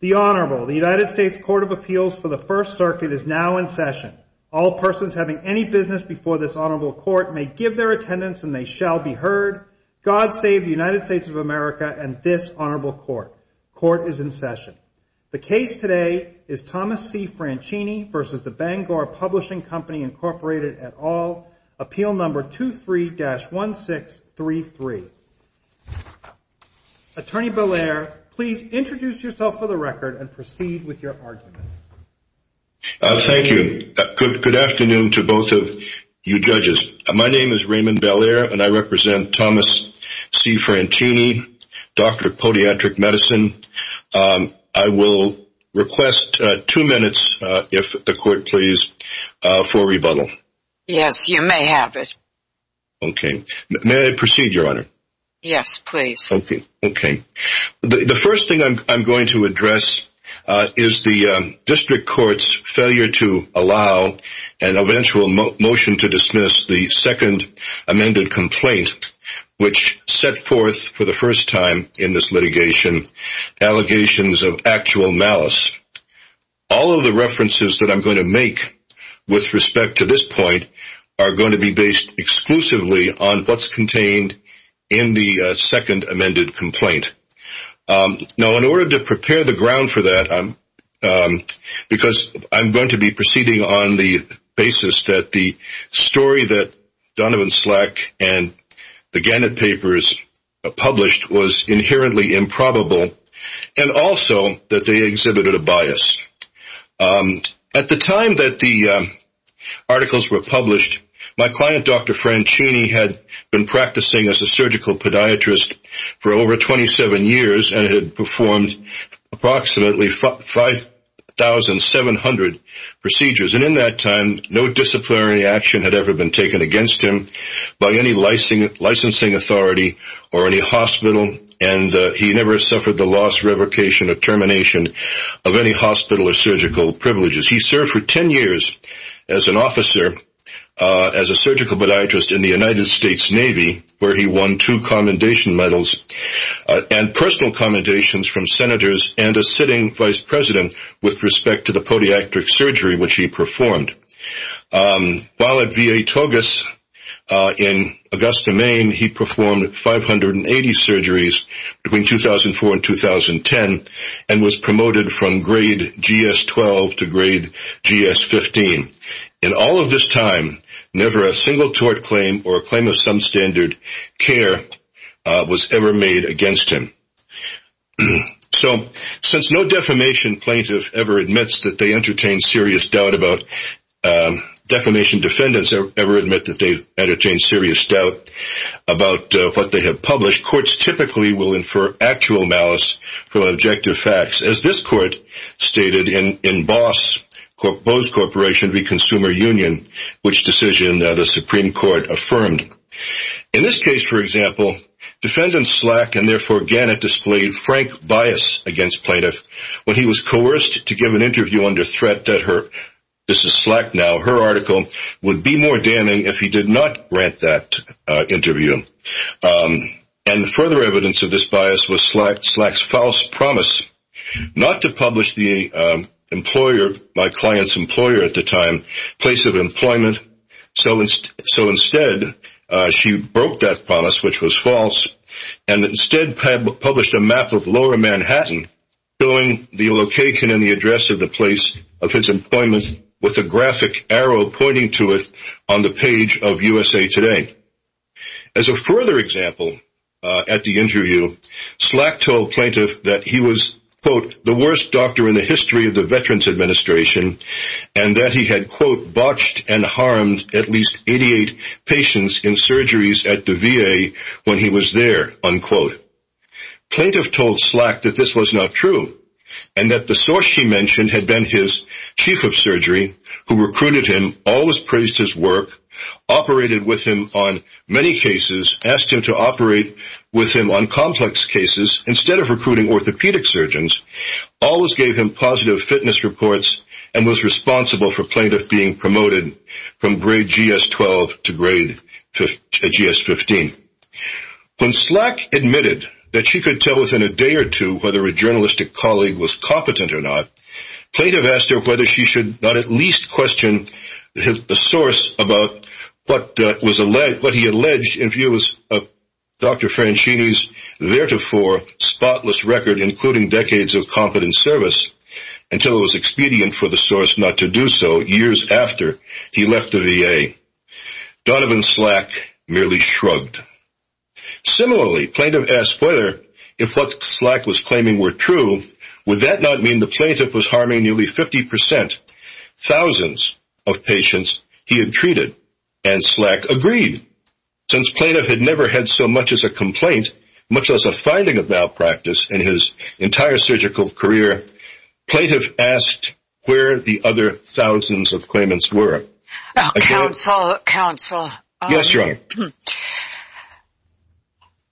The Honorable, the United States Court of Appeals for the First Circuit is now in session. All persons having any business before this Honorable Court may give their attendance and they shall be heard. God save the United States of America and this Honorable Court. Court is in session. The case today is Thomas C. Franchini v. Bangor Publishing Co., Inc. et al. Appeal No. 23-1633. Attorney Belair, please introduce yourself for the record and proceed with your argument. Thank you. Good afternoon to both of you judges. My name is Raymond Belair and I represent Thomas C. Franchini, Doctor of Podiatric Medicine. I will request two minutes, if the Court please, for rebuttal. Yes, you may have it. Okay. May I proceed, Your Honor? Yes, please. Thank you. Okay. The first thing I'm going to address is the District Court's failure to allow an eventual motion to dismiss the second amended complaint, which set forth for the first time in this litigation allegations of actual malice. All of the references that I'm going to make with respect to this point are going to be exclusively on what's contained in the second amended complaint. Now, in order to prepare the ground for that, because I'm going to be proceeding on the basis that the story that Donovan Slack and the Gannett Papers published was inherently improbable and also that they exhibited a bias. At the time that the articles were published, my client, Dr. Franchini, had been practicing as a surgical podiatrist for over 27 years and had performed approximately 5,700 procedures. In that time, no disciplinary action had ever been taken against him by any licensing authority or any hospital, and he never suffered the loss, revocation, or termination of any hospital or surgical privileges. He served for 10 years as an officer, as a surgical podiatrist in the United States Navy where he won two commendation medals and personal commendations from senators and a sitting vice president with respect to the podiatric surgery which he performed. While at VA Togus in Augusta, Maine, he performed 580 surgeries between 2004 and 2010 and was promoted from grade GS-12 to grade GS-15. In all of this time, never a single tort claim or a claim of some standard care was ever made against him. So, since no defamation plaintiff ever admits that they entertain serious doubt about, defamation defendants ever admit that they entertain serious doubt about what they have published, courts typically will infer actual malice from objective facts, as this court stated in Bose Corporation v. Consumer Union, which decision the Supreme Court affirmed. In this case, for example, defendant Slack and therefore Gannett displayed frank bias against plaintiff when he was coerced to give an interview under threat that her, this is Slack now, her article would be more damning if he did not grant that interview. And further evidence of this bias was Slack's false promise not to publish the employer, my client's employer at the time, place of employment. So instead, she broke that promise, which was false, and instead published a map of lower Manhattan showing the location and the address of the place of his employment with a graphic arrow pointing to it on the page of USA Today. As a further example, at the interview, Slack told plaintiff that he was, quote, the worst doctor in the history of the Veterans Administration and that he had, quote, botched and harmed at least 88 patients in surgeries at the VA when he was there, unquote. Plaintiff told Slack that this was not true and that the source she mentioned had been his chief of surgery who recruited him, always praised his work, operated with him on many cases, asked him to operate with him on complex cases instead of recruiting orthopedic surgeons, always gave him positive fitness reports, and was responsible for plaintiff being promoted from grade GS-12 to grade GS-15. When Slack admitted that she could tell within a day or two whether a journalistic colleague was competent or not, plaintiff asked her whether she should not at least question the source about what he alleged in view of Dr. Franchini's theretofore spotless record including decades of competent service until it was expedient for the source not to do so years after he left the VA. Donovan Slack merely shrugged. Similarly, plaintiff asked whether if what Slack was claiming were true, would that not mean the plaintiff was harming nearly 50 percent, thousands of patients he had treated? And Slack agreed. Since plaintiff had never had so much as a complaint, much as a finding of malpractice in his entire surgical career, plaintiff asked where the other thousands of claimants were. Counsel, counsel,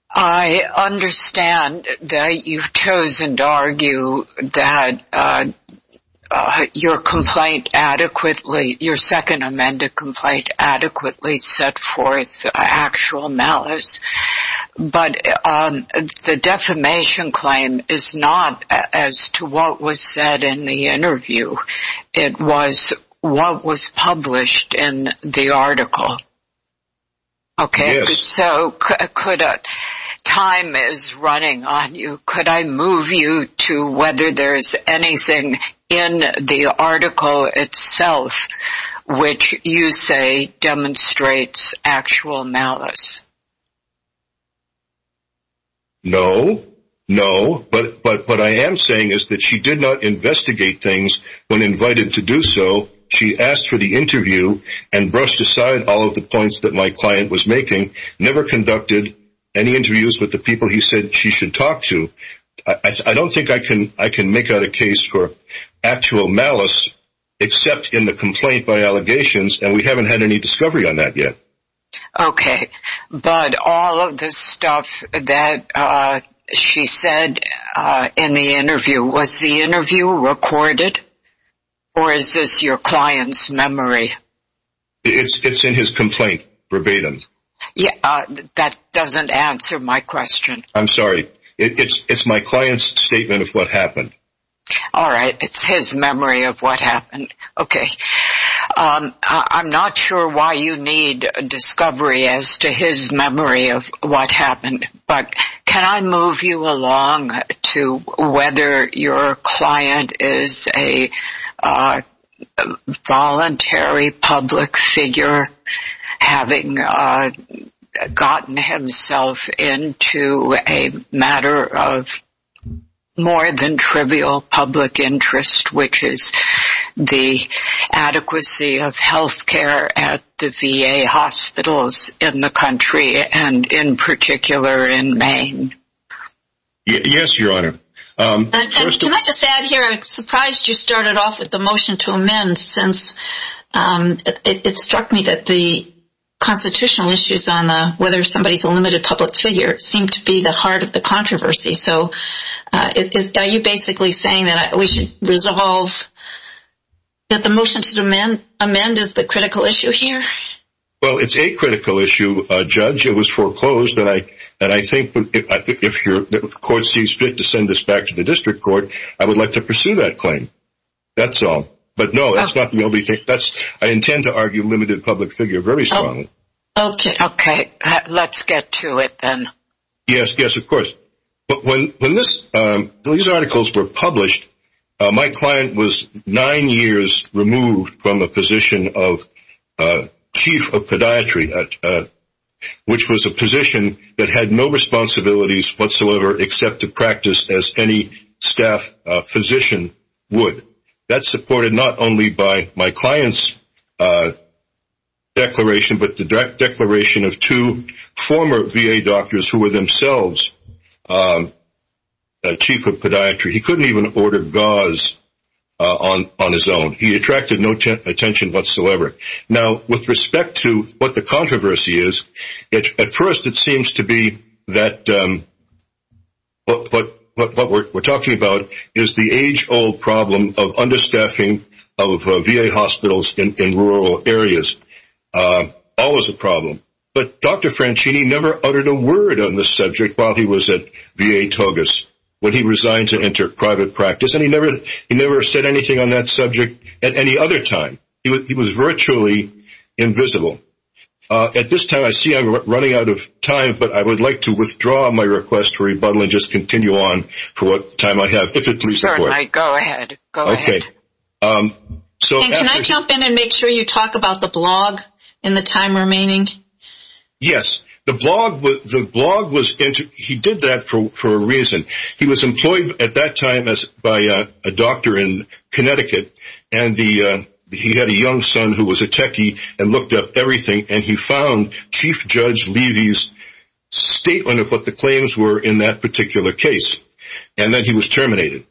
I understand that you've chosen to argue that your complaint adequately, your second amended complaint adequately set forth actual malice. But the defamation claim is not as to what was said in the interview. It was what was published in the article. OK, so could time is running on you. Could I move you to whether there's anything in the article itself which you say demonstrates actual malice? No, no, but but what I am saying is that she did not investigate things when invited to do so. She asked for the interview and brushed aside all of the points that my client was making, never conducted any interviews with the people he said she should talk to. I don't think I can I can make out a case for actual malice, except in the complaint by allegations, and we haven't had any discovery on that yet. OK, but all of this stuff that she said in the interview was the interview recorded or is this your client's memory? It's in his complaint verbatim. That doesn't answer my question. I'm sorry. It's my client's statement of what happened. All right. It's his memory of what happened. OK, I'm not sure why you need a discovery as to his memory of what happened. But can I move you along to whether your client is a voluntary public figure, having gotten himself into a matter of more than trivial public interest, which is the adequacy of health care at the V.A. hospitals in the country and in particular in Maine? Yes, Your Honor. Can I just add here, I'm surprised you started off with the motion to amend since it struck me that the constitutional issues on whether somebody's a limited public figure seem to be the heart of the controversy. So are you basically saying that we should resolve that the motion to amend is the critical issue here? Well, it's a critical issue, Judge. It was foreclosed that I think if the court sees fit to send this back to the district court, I would like to pursue that claim. That's all. But no, that's not the only thing. I intend to argue limited public figure very strongly. Yes, yes, of course. But when these articles were published, my client was nine years removed from a position of chief of podiatry, which was a position that had no responsibilities whatsoever except to practice as any staff physician would. That's supported not only by my client's declaration, but the direct declaration of two former V.A. doctors who were themselves a chief of podiatry. He couldn't even order gauze on his own. He attracted no attention whatsoever. Now, with respect to what the controversy is, at first, it seems to be that what we're talking about is the age old problem of understaffing of V.A. hospitals in rural areas. Always a problem. But Dr. Franchini never uttered a word on the subject while he was at V.A. Togas, when he resigned to enter private practice. And he never said anything on that subject at any other time. He was virtually invisible. At this time, I see I'm running out of time, but I would like to withdraw my request for rebuttal and just continue on for what time I have. If it's all right, go ahead. Go ahead. So can I jump in and make sure you talk about the blog in the time remaining? Yes, the blog. The blog was he did that for a reason. He was employed at that time as by a doctor in Connecticut. And he had a young son who was a techie and looked up everything. And he found Chief Judge Levy's statement of what the claims were in that particular case. And then he was terminated.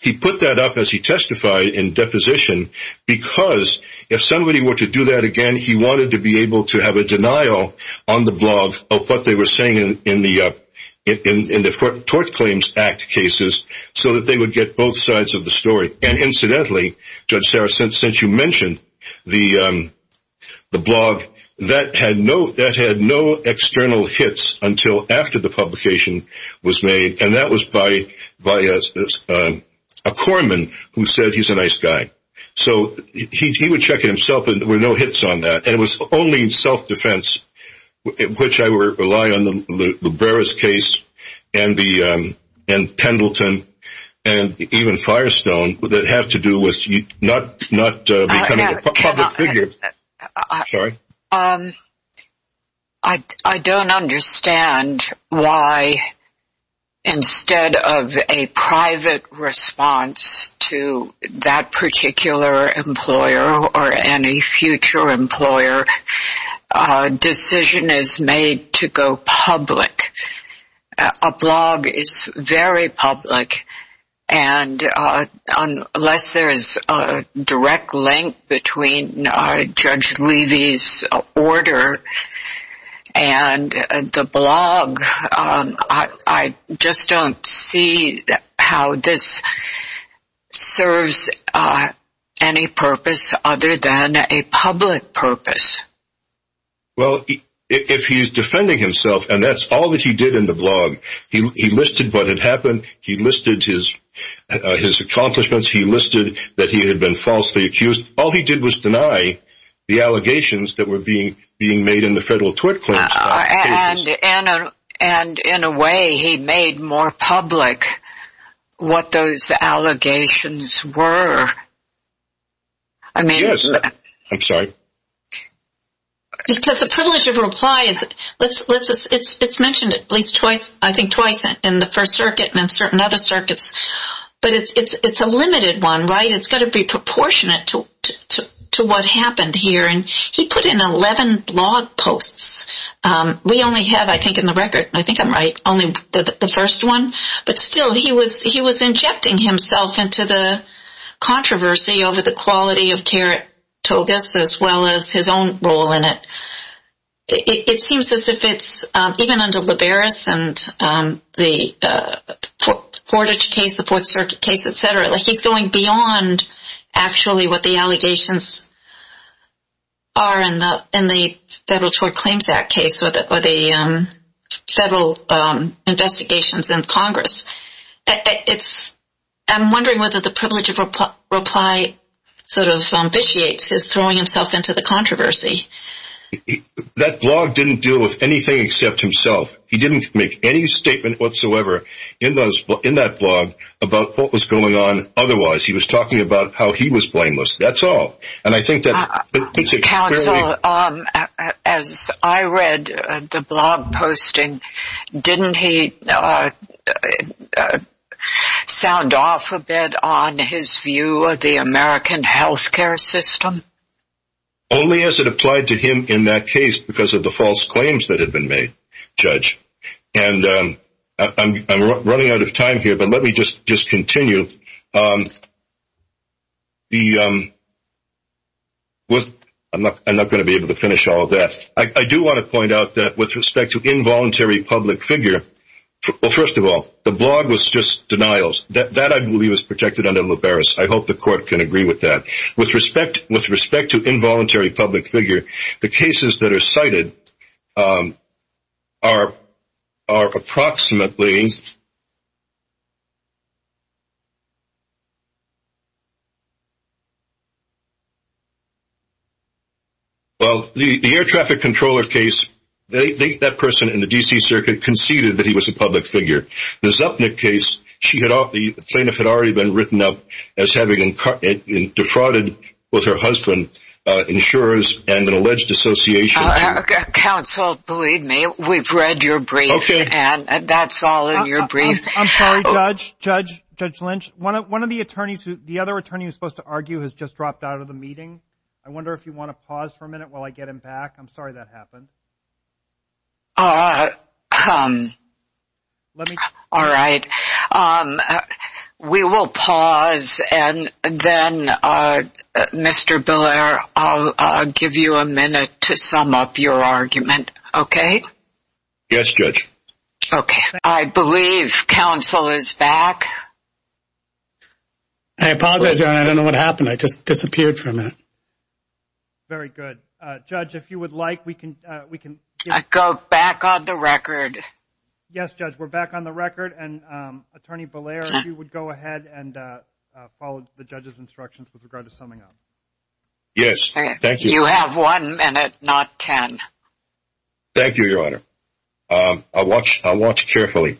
He put that up as he testified in deposition because if somebody were to do that again, he wanted to be able to have a denial on the blog of what they were saying in the Tort Claims Act cases so that they would get both sides of the story. And incidentally, Judge Sarah, since you mentioned the blog, that had no external hits until after the publication was made. And that was by a corpsman who said he's a nice guy. So he would check it himself and there were no hits on that. And it was only self-defense, which I rely on the Breras case and Pendleton and even Firestone that have to do with not becoming a public figure. I don't understand why instead of a private response to that particular employer or any future employer, a decision is made to go public. A blog is very public. And unless there is a direct link between Judge Levy's order and the blog, I just don't see how this serves any purpose other than a public purpose. Well, if he's defending himself and that's all that he did in the blog, he listed what had happened. He listed his accomplishments. He listed that he had been falsely accused. All he did was deny the allegations that were being made in the federal Tort Claims Act cases. And in a way, he made more public what those allegations were. I mean, yes. I'm sorry. Because the privilege of a reply, it's mentioned at least twice, I think twice in the First Circuit and in certain other circuits. But it's a limited one, right? It's got to be proportionate to what happened here. And he put in 11 blog posts. We only have, I think in the record, I think I'm right, only the first one. But still, he was injecting himself into the controversy over the quality of care at Togus as well as his own role in it. It seems as if it's even under Liberis and the Portage case, the Fourth Circuit case, et cetera, like he's going beyond actually what the allegations are in the federal Tort Claims Act case or the federal investigations in Congress. It's, I'm wondering whether the privilege of a reply sort of ambitiates his throwing himself into the controversy. That blog didn't deal with anything except himself. He didn't make any statement whatsoever in that blog about what was going on otherwise. He was talking about how he was blameless. That's all. And I think that... Well, as I read the blog posting, didn't he sound off a bit on his view of the American health care system? Only as it applied to him in that case because of the false claims that had been made, Judge. And I'm running out of time here, but let me just continue. I'm not going to be able to finish all of that. I do want to point out that with respect to involuntary public figure, well, first of all, the blog was just denials. That I believe is protected under Liberis. I hope the court can agree with that. With respect to involuntary public figure, the cases that are cited are approximately Well, the air traffic controller case, that person in the D.C. circuit conceded that he was a public figure. The Zupnik case, the plaintiff had already been written up as having defrauded both her husband, insurers, and an alleged association. Counsel, believe me, we've read your brief and that's all in your brief. I'm sorry, Judge Lynch, one of the attorneys, the other attorney who's supposed to argue has just dropped out of the meeting. I wonder if you want to pause for a minute while I get him back. I'm sorry that happened. All right. We will pause and then, Mr. Biller, I'll give you a minute to sum up your argument, okay? Yes, Judge. Okay, I believe counsel is back. I apologize, Your Honor, I don't know what happened. I just disappeared for a minute. Very good. Judge, if you would like, we can go back on the record. Yes, Judge, we're back on the record. And Attorney Biller, if you would go ahead and follow the judge's instructions with regard to summing up. Yes, thank you. You have one minute, not ten. Thank you, Your Honor. I'll watch carefully.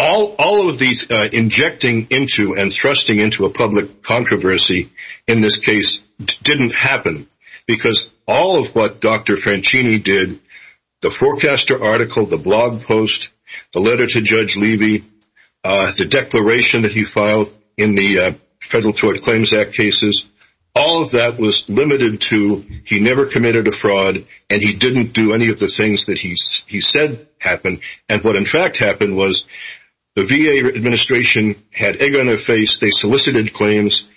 All of these injecting into and thrusting into a public controversy in this case didn't happen because all of what Dr. Francini did, the forecaster article, the blog post, the letter to Judge Levy, the declaration that he filed in the Federal Tort Claims Act cases, all of that was limited to he never committed a fraud and he didn't do any of the things that he said happened. And what, in fact, happened was the VA administration had anger on their face, they solicited claims,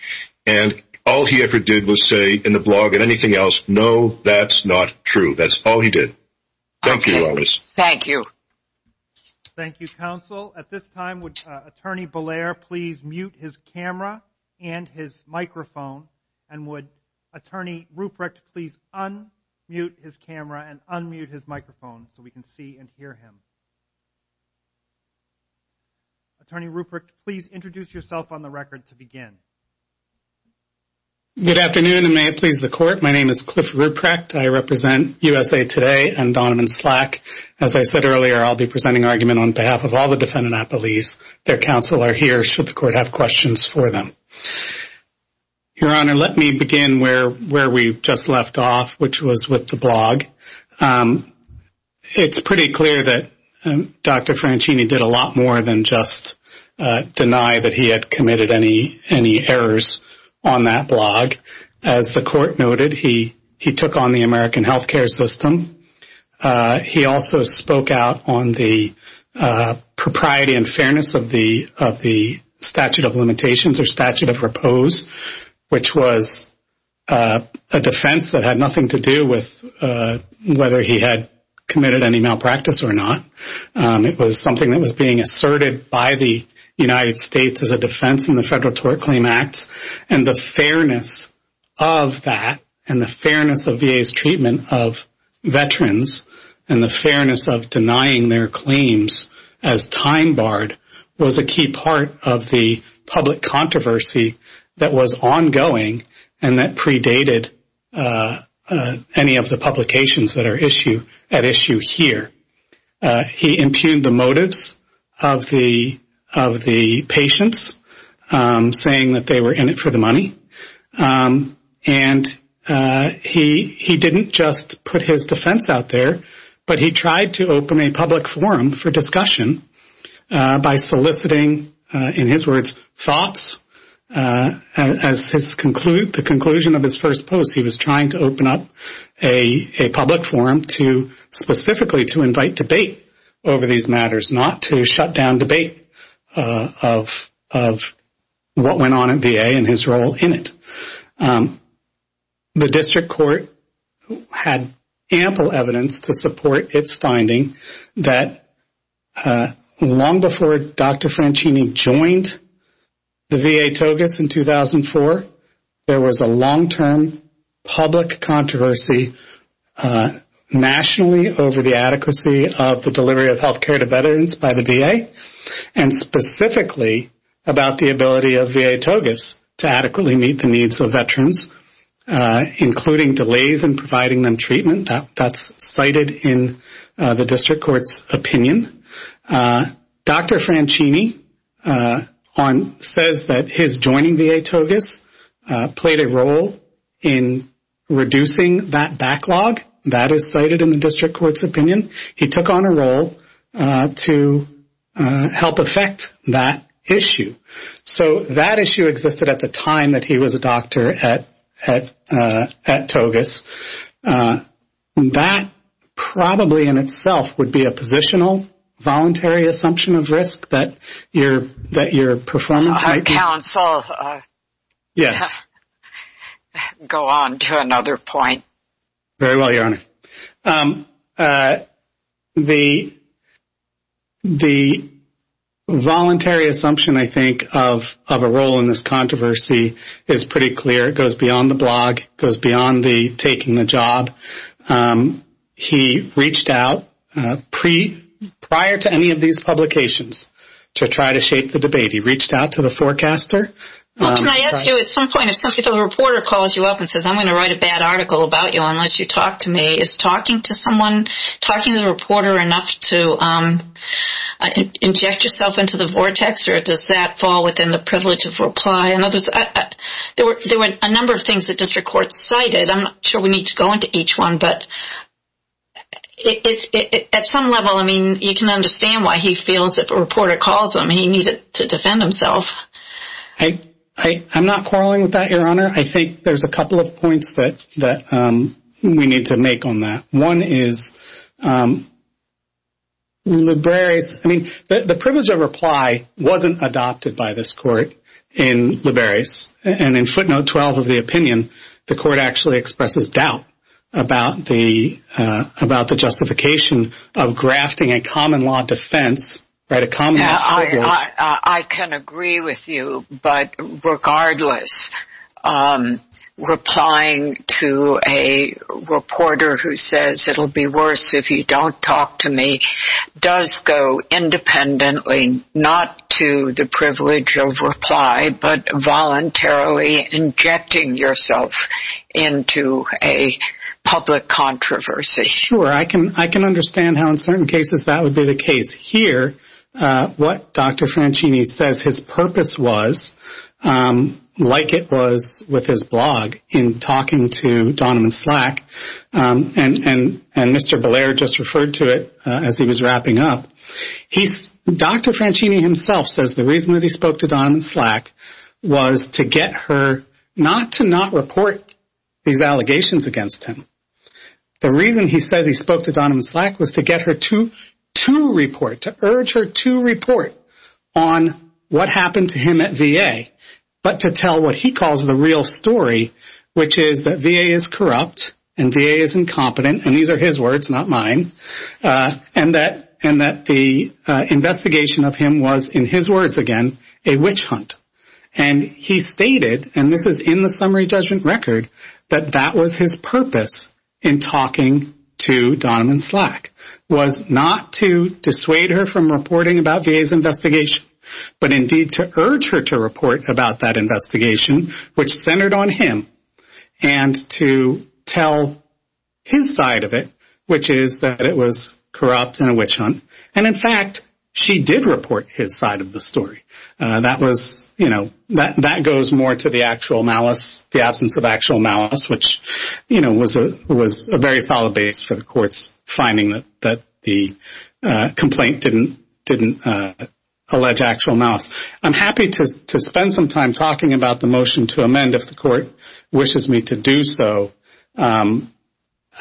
and all he ever did was say in the blog and anything else, no, that's not true. That's all he did. Thank you, Your Honor. Thank you. Thank you, counsel. At this time, would Attorney Beller please mute his camera and his microphone? And would Attorney Ruprecht please unmute his camera and unmute his microphone so we can see and hear him? Attorney Ruprecht, please introduce yourself on the record to begin. Good afternoon, and may it please the Court. My name is Cliff Ruprecht. I represent USA Today and Donovan Slack. As I said earlier, I'll be presenting argument on behalf of all the defendant at police. Their counsel are here should the Court have questions for them. Your Honor, let me begin where we just left off, which was with the blog. It's pretty clear that Dr. Francini did a lot more than just deny that he had committed any errors on that blog. As the Court noted, he took on the American health care system. He also spoke out on the propriety and fairness of the statute of limitations or statute of repose, which was a defense that had nothing to do with whether he had committed any malpractice or not. It was something that was being asserted by the United States as a defense in the Federal Tort Claims Act. And the fairness of that and the fairness of VA's treatment of veterans and the fairness of denying their claims as time barred was a key part of the public controversy that was ongoing and that predated any of the publications that are at issue here. He impugned the motives of the patients, saying that they were in it for the money. And he didn't just put his defense out there, but he tried to open a public forum for discussion by soliciting, in his words, thoughts. As the conclusion of his first post, he was trying to open up a public forum specifically to invite debate over these matters, not to shut down debate of what went on at VA and his role in it. The District Court had ample evidence to support its finding that long before Dr. Franchini joined the VA TOGUS in 2004, there was a long-term public controversy nationally over the adequacy of the delivery of health care to veterans by the VA, and specifically about the ability of VA TOGUS to adequately meet the needs of veterans, including delays in providing them treatment. That's cited in the District Court's opinion. Dr. Franchini says that his joining VA TOGUS played a role in reducing that backlog. That is cited in the District Court's opinion. He took on a role to help affect that issue. So that issue existed at the time that he was a doctor at TOGUS. That probably, in itself, would be a positional, voluntary assumption of risk that your performance might be. Our counsel. Yes. Go on to another point. Very well, Your Honor. The voluntary assumption, I think, of a role in this controversy is pretty clear. It goes beyond the blog. It goes beyond the taking the job. He reached out prior to any of these publications to try to shape the debate. He reached out to the forecaster. Well, can I ask you, at some point, if a reporter calls you up and says, I'm going to write a bad article about you unless you talk to me, is talking to someone, talking to the reporter enough to inject yourself into the vortex, or does that fall within the privilege of reply? There were a number of things that District Court cited. I'm not sure we need to go into each one, but at some level, I mean, you can understand why he feels if a reporter calls him, he needed to defend himself. I'm not quarreling with that, Your Honor. I think there's a couple of points that we need to make on that. One is, I mean, the privilege of reply wasn't adopted by this court in Liberis, and in footnote 12 of the opinion, the court actually expresses doubt about the justification of grafting a common law defense, right? I can agree with you, but regardless, replying to a reporter who says, it'll be worse if you don't talk to me, does go independently, not to the privilege of reply, but voluntarily injecting yourself into a public controversy. Sure, I can understand how in certain cases that would be the case. Here, what Dr. Franchini says his purpose was, like it was with his blog in talking to Donovan Slack, and Mr. Blair just referred to it as he was wrapping up, Dr. Franchini himself says the reason that he spoke to Donovan Slack was to get her not to not report these allegations against him. The reason he says he spoke to Donovan Slack was to get her to report, to urge her to report on what happened to him at VA, but to tell what he calls the real story, which is that VA is corrupt and VA is incompetent, and these are his words, not mine, and that the investigation of him was, in his words again, a witch hunt. And he stated, and this is in the summary judgment record, that that was his purpose in talking to Donovan Slack, was not to dissuade her from reporting about VA's investigation, but indeed to urge her to report about that investigation, which centered on him, and to tell his side of it, which is that it was corrupt and a witch hunt. And in fact, she did report his side of the story. That was, you know, that goes more to the actual malice, the absence of actual malice, which, you know, was a very solid base for the court's finding that the complaint didn't allege actual malice. I'm happy to spend some time talking about the motion to amend if the court wishes me to do so. I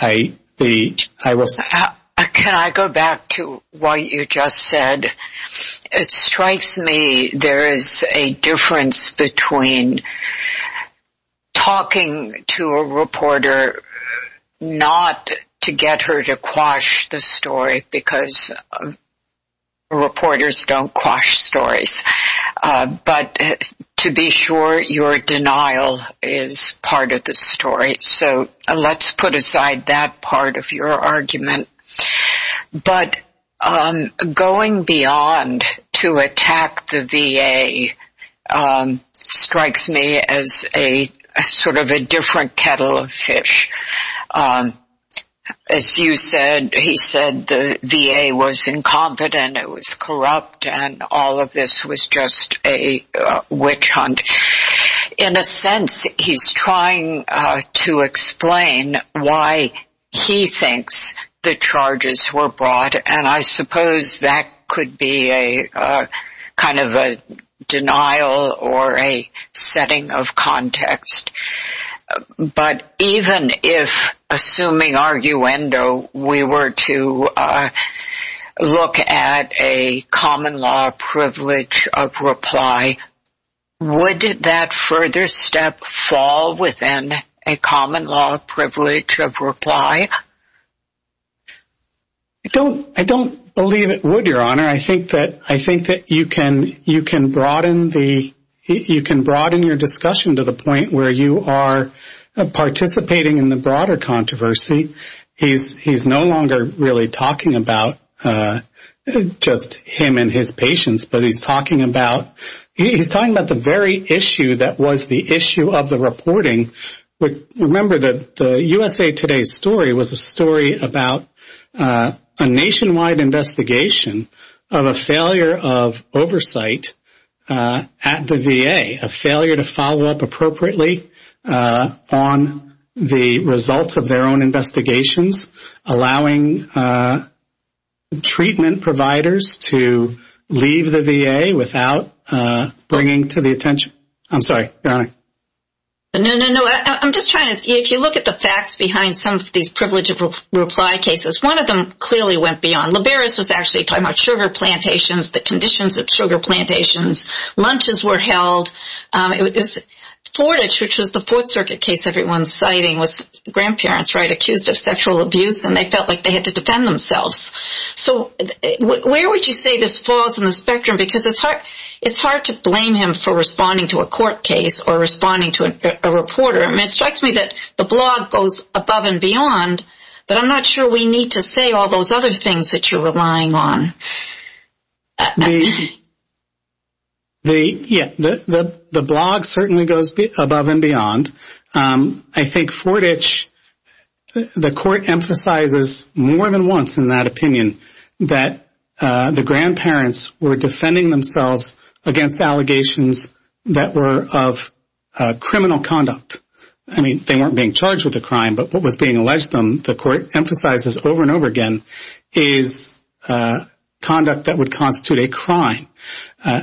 will stop. Can I go back to what you just said? It strikes me there is a difference between talking to a reporter not to get her to quash the story, because reporters don't quash stories, but to be sure your denial is part of the story. So let's put aside that part of your argument. But going beyond to attack the VA strikes me as a sort of a different kettle of fish. As you said, he said the VA was incompetent, it was corrupt, and all of this was just a witch hunt. In a sense, he's trying to explain why he thinks the charges were brought. And I suppose that could be a kind of a denial or a setting of context. But even if, assuming arguendo, we were to look at a common law privilege of reply, would that further step fall within a common law privilege of reply? I don't believe it would, Your Honor. I think that you can broaden your discussion to the point where you are participating in the broader controversy. He's no longer really talking about just him and his patients, but he's talking about the very issue that was the issue of the reporting. Remember that the USA Today story was a story about a nationwide investigation of a failure of oversight at the VA, a failure to follow up appropriately on the results of their own bringing to the attention. I'm sorry, Your Honor. No, no, no. I'm just trying to, if you look at the facts behind some of these privilege of reply cases, one of them clearly went beyond. Liberis was actually talking about sugar plantations, the conditions of sugar plantations. Lunches were held. Fortich, which was the Fourth Circuit case everyone's citing, was grandparents, right, accused of sexual abuse, and they felt like they had to defend themselves. So where would you say this falls in the spectrum? Because it's hard to blame him for responding to a court case or responding to a reporter. It strikes me that the blog goes above and beyond, but I'm not sure we need to say all those other things that you're relying on. I think Fortich, the court emphasizes more than once in that opinion that the grandparents were defending themselves against allegations that were of criminal conduct. I mean, they weren't being charged with a crime, but what was being alleged to them, the court emphasizes over and over again, is conduct that would constitute a crime.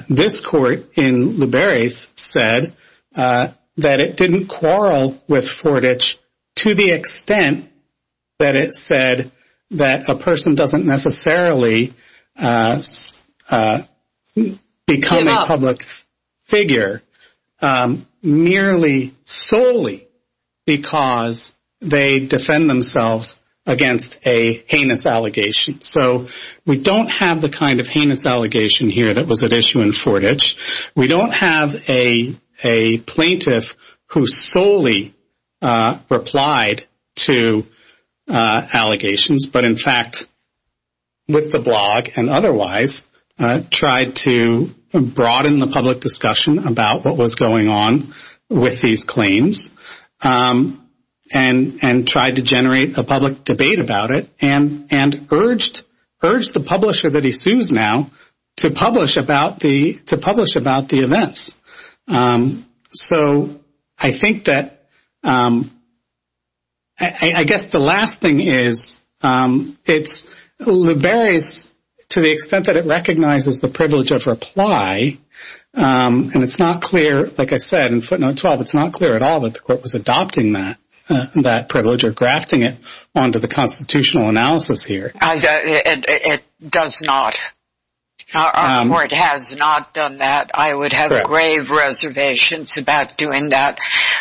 This court in Liberis said that it didn't quarrel with Fortich to the extent that it said that a person doesn't necessarily become a public figure merely solely because they defend themselves against a heinous allegation. So we don't have the kind of heinous allegation here that was at issue in Fortich. We don't have a plaintiff who solely replied to allegations, but in fact, with the blog and otherwise tried to broaden the public discussion about what was going on with these allegations, urged the publisher that he sues now to publish about the events. So I think that, I guess the last thing is, it's Liberis, to the extent that it recognizes the privilege of reply, and it's not clear, like I said, in footnote 12, it's not clear at all that the court was adopting that privilege or grafting it onto the constitutional analysis here. It does not, or it has not done that. I would have grave reservations about doing that.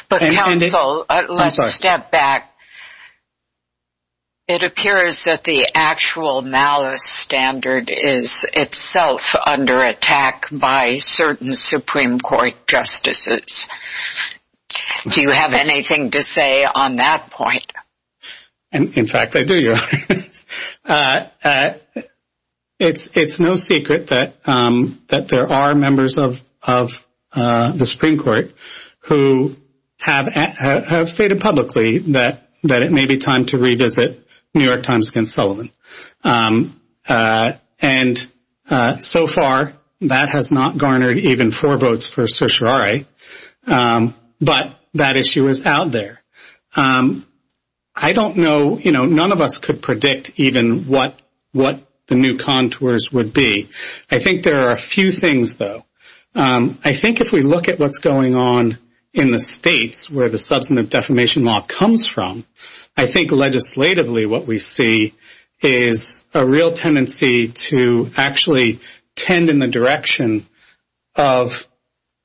But counsel, let's step back. It appears that the actual malice standard is itself under attack by certain Supreme Court justices. Do you have anything to say on that point? In fact, I do. It's no secret that there are members of the Supreme Court who have stated publicly that it may be time to revisit New York Times against Sullivan. And so far, that has not garnered even four votes for certiorari. But that issue is out there. I don't know, you know, none of us could predict even what the new contours would be. I think there are a few things, though. I think if we look at what's going on in the states where the substantive defamation law comes from, I think legislatively what we see is a real tendency to actually tend in the direction of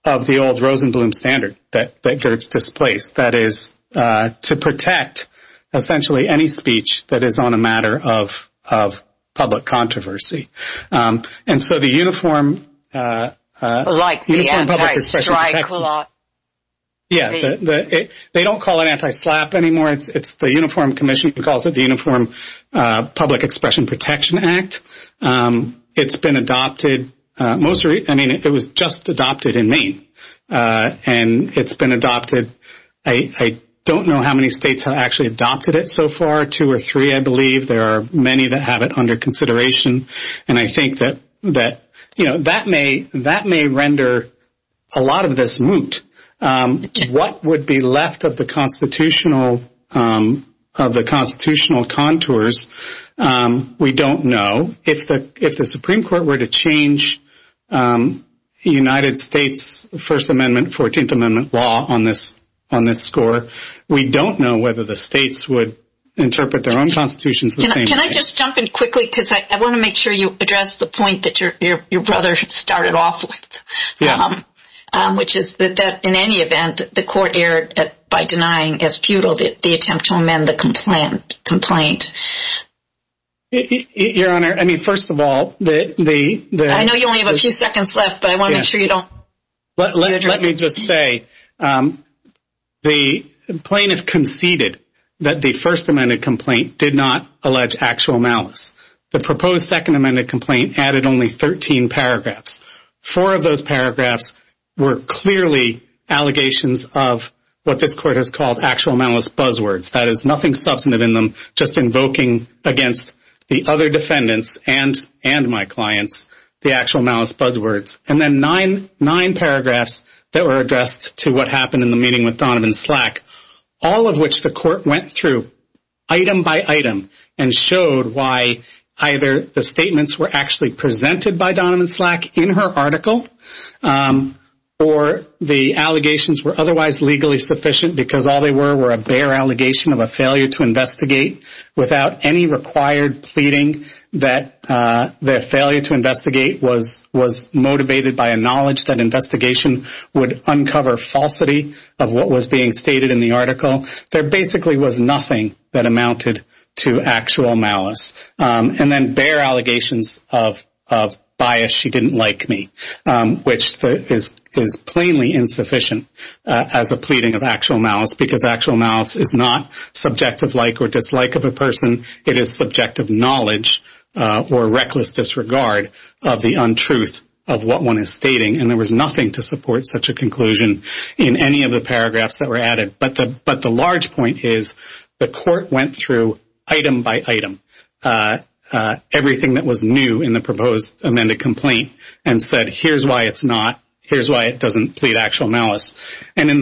the old Rosenblum standard that gets displaced. That is to protect essentially any speech that is on a matter of public controversy. And so the Uniform Public Expression Protection Act, they don't call it anti-SLAPP anymore. It's the Uniform Commission who calls it the Uniform Public Expression Protection Act. It's been adopted. And it's been adopted. I don't know how many states have actually adopted it so far. Two or three, I believe. There are many that have it under consideration. And I think that, you know, that may render a lot of this moot. What would be left of the constitutional contours, we don't know. If the Supreme Court were to change the United States First Amendment, 14th Amendment law on this score, we don't know whether the states would interpret their own constitutions the same way. Can I just jump in quickly because I want to make sure you address the point that your brother started off with, which is that in any event, the court erred by denying as futile the attempt to amend the complaint. Your Honor, I mean, first of all, the... I know you only have a few seconds left, but I want to make sure you don't... Let me just say, the plaintiff conceded that the First Amendment complaint did not allege actual malice. The proposed Second Amendment complaint added only 13 paragraphs. Four of those paragraphs were clearly allegations of what this court has called actual malice invoking against the other defendants and my clients, the actual malice bud words. And then nine paragraphs that were addressed to what happened in the meeting with Donovan Slack, all of which the court went through item by item and showed why either the statements were actually presented by Donovan Slack in her article, or the allegations were otherwise legally sufficient because all they were were a bare allegation of a failure to investigate without any required pleading that the failure to investigate was motivated by a knowledge that investigation would uncover falsity of what was being stated in the article. There basically was nothing that amounted to actual malice. And then bare allegations of bias. She didn't like me, which is plainly insufficient as a pleading of actual malice because actual malice is not subjective like or dislike of a person. It is subjective knowledge or reckless disregard of the untruth of what one is stating. And there was nothing to support such a conclusion in any of the paragraphs that were added. But the large point is the court went through item by item everything that was new in the proposed amended complaint and said, here's why it's not. Here's why it doesn't plead actual malice. And in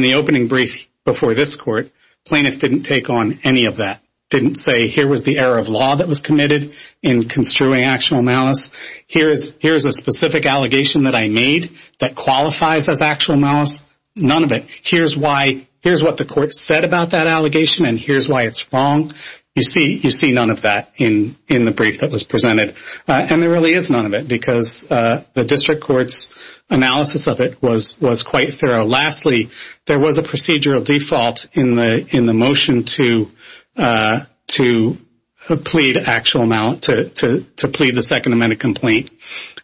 the opening brief before this court, plaintiffs didn't take on any of that, didn't say here was the error of law that was committed in construing actual malice. Here's a specific allegation that I made that qualifies as actual malice. None of it. Here's why. Here's what the court said about that allegation. And here's why it's wrong. You see none of that in the brief that was presented. And there really is none of it because the district court's analysis of it was quite thorough. Lastly, there was a procedural default in the motion to plead actual malice, to plead the second amended complaint.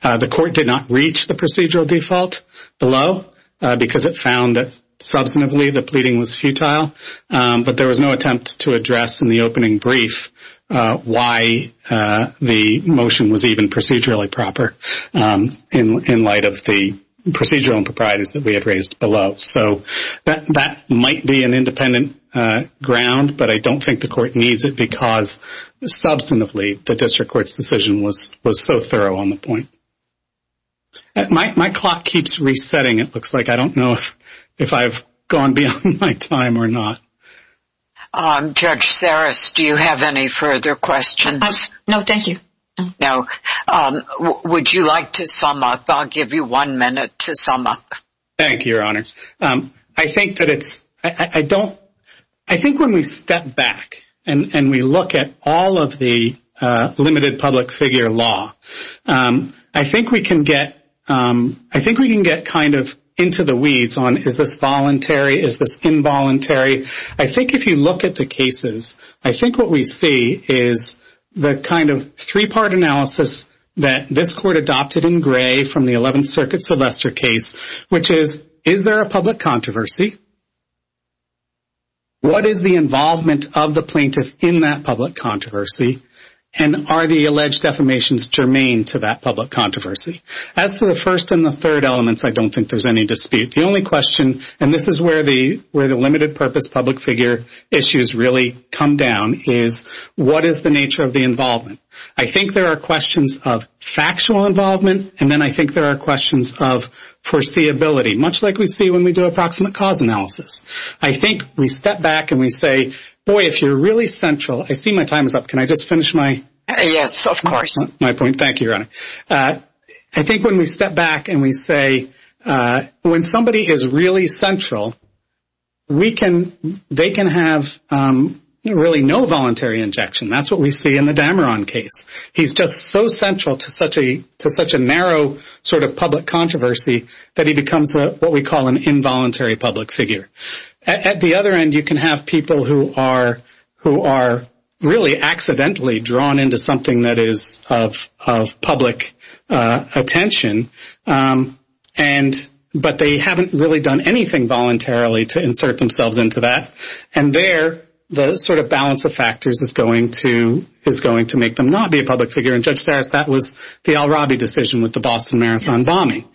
The court did not reach the procedural default below because it found that substantively the pleading was futile. But there was no attempt to address in the opening brief why the motion was even procedurally proper in light of the procedural improprieties that we had raised below. So that might be an independent ground. But I don't think the court needs it because substantively the district court's decision was so thorough on the point. My clock keeps resetting, it looks like. I don't know if I've gone beyond my time or not. Judge Saras, do you have any further questions? No, thank you. No. Would you like to sum up? I'll give you one minute to sum up. Thank you, Your Honor. I think that it's, I don't, I think when we step back and we look at all of the limited public figure law, I think we can get, I think we can get kind of into the weeds on is this voluntary, is this involuntary. I think if you look at the cases, I think what we see is the kind of three-part analysis that this court adopted in gray from the 11th Circuit Sylvester case, which is, is there a public controversy? What is the involvement of the plaintiff in that public controversy? And are the alleged affirmations germane to that public controversy? As to the first and the third elements, I don't think there's any dispute. The only question, and this is where the, where the limited purpose public figure issues really come down, is what is the nature of the involvement? I think there are questions of factual involvement, and then I think there are questions of foreseeability, much like we see when we do approximate cause analysis. I think we step back and we say, boy, if you're really central, I see my time is up. Can I just finish my? Yes, of course. My point, thank you, Your Honor. I think when we step back and we say, when somebody is really central, we can, they can have really no voluntary injection. That's what we see in the Dameron case. He's just so central to such a, to such a narrow sort of public controversy that he becomes what we call an involuntary public figure. At the other end, you can have people who are, who are really accidentally drawn into something that is of, of public attention. And, but they haven't really done anything voluntarily to insert themselves into that. And there, the sort of balance of factors is going to, is going to make them not be a public figure. And Judge Sarris, that was the Al-Rabi decision with the Boston Marathon bombing.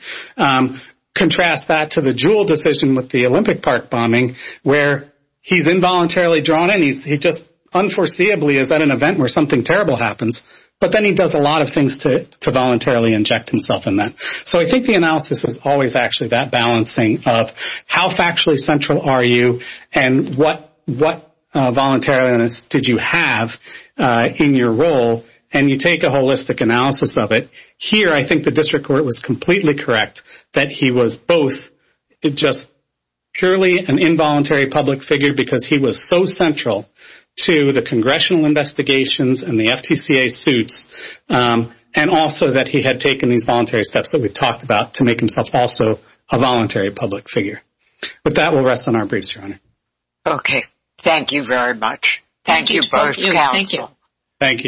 Contrast that to the Jewell decision with the Olympic Park bombing, where he's involuntarily drawn in, he's, he just unforeseeably is at an event where something terrible happens. But then he does a lot of things to, to voluntarily inject himself in that. So I think the analysis is always actually that balancing of how factually central are you, and what, what voluntariness did you have in your role? And you take a holistic analysis of it. Here, I think the district court was completely correct that he was both just purely an involuntary public figure because he was so central to the congressional investigations and the FTCA suits, and also that he had taken these voluntary steps that we've talked about to make himself also a voluntary public figure. But that will rest on our briefs, Your Honor. Okay. Thank you very much. Thank you both. Thank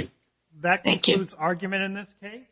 you.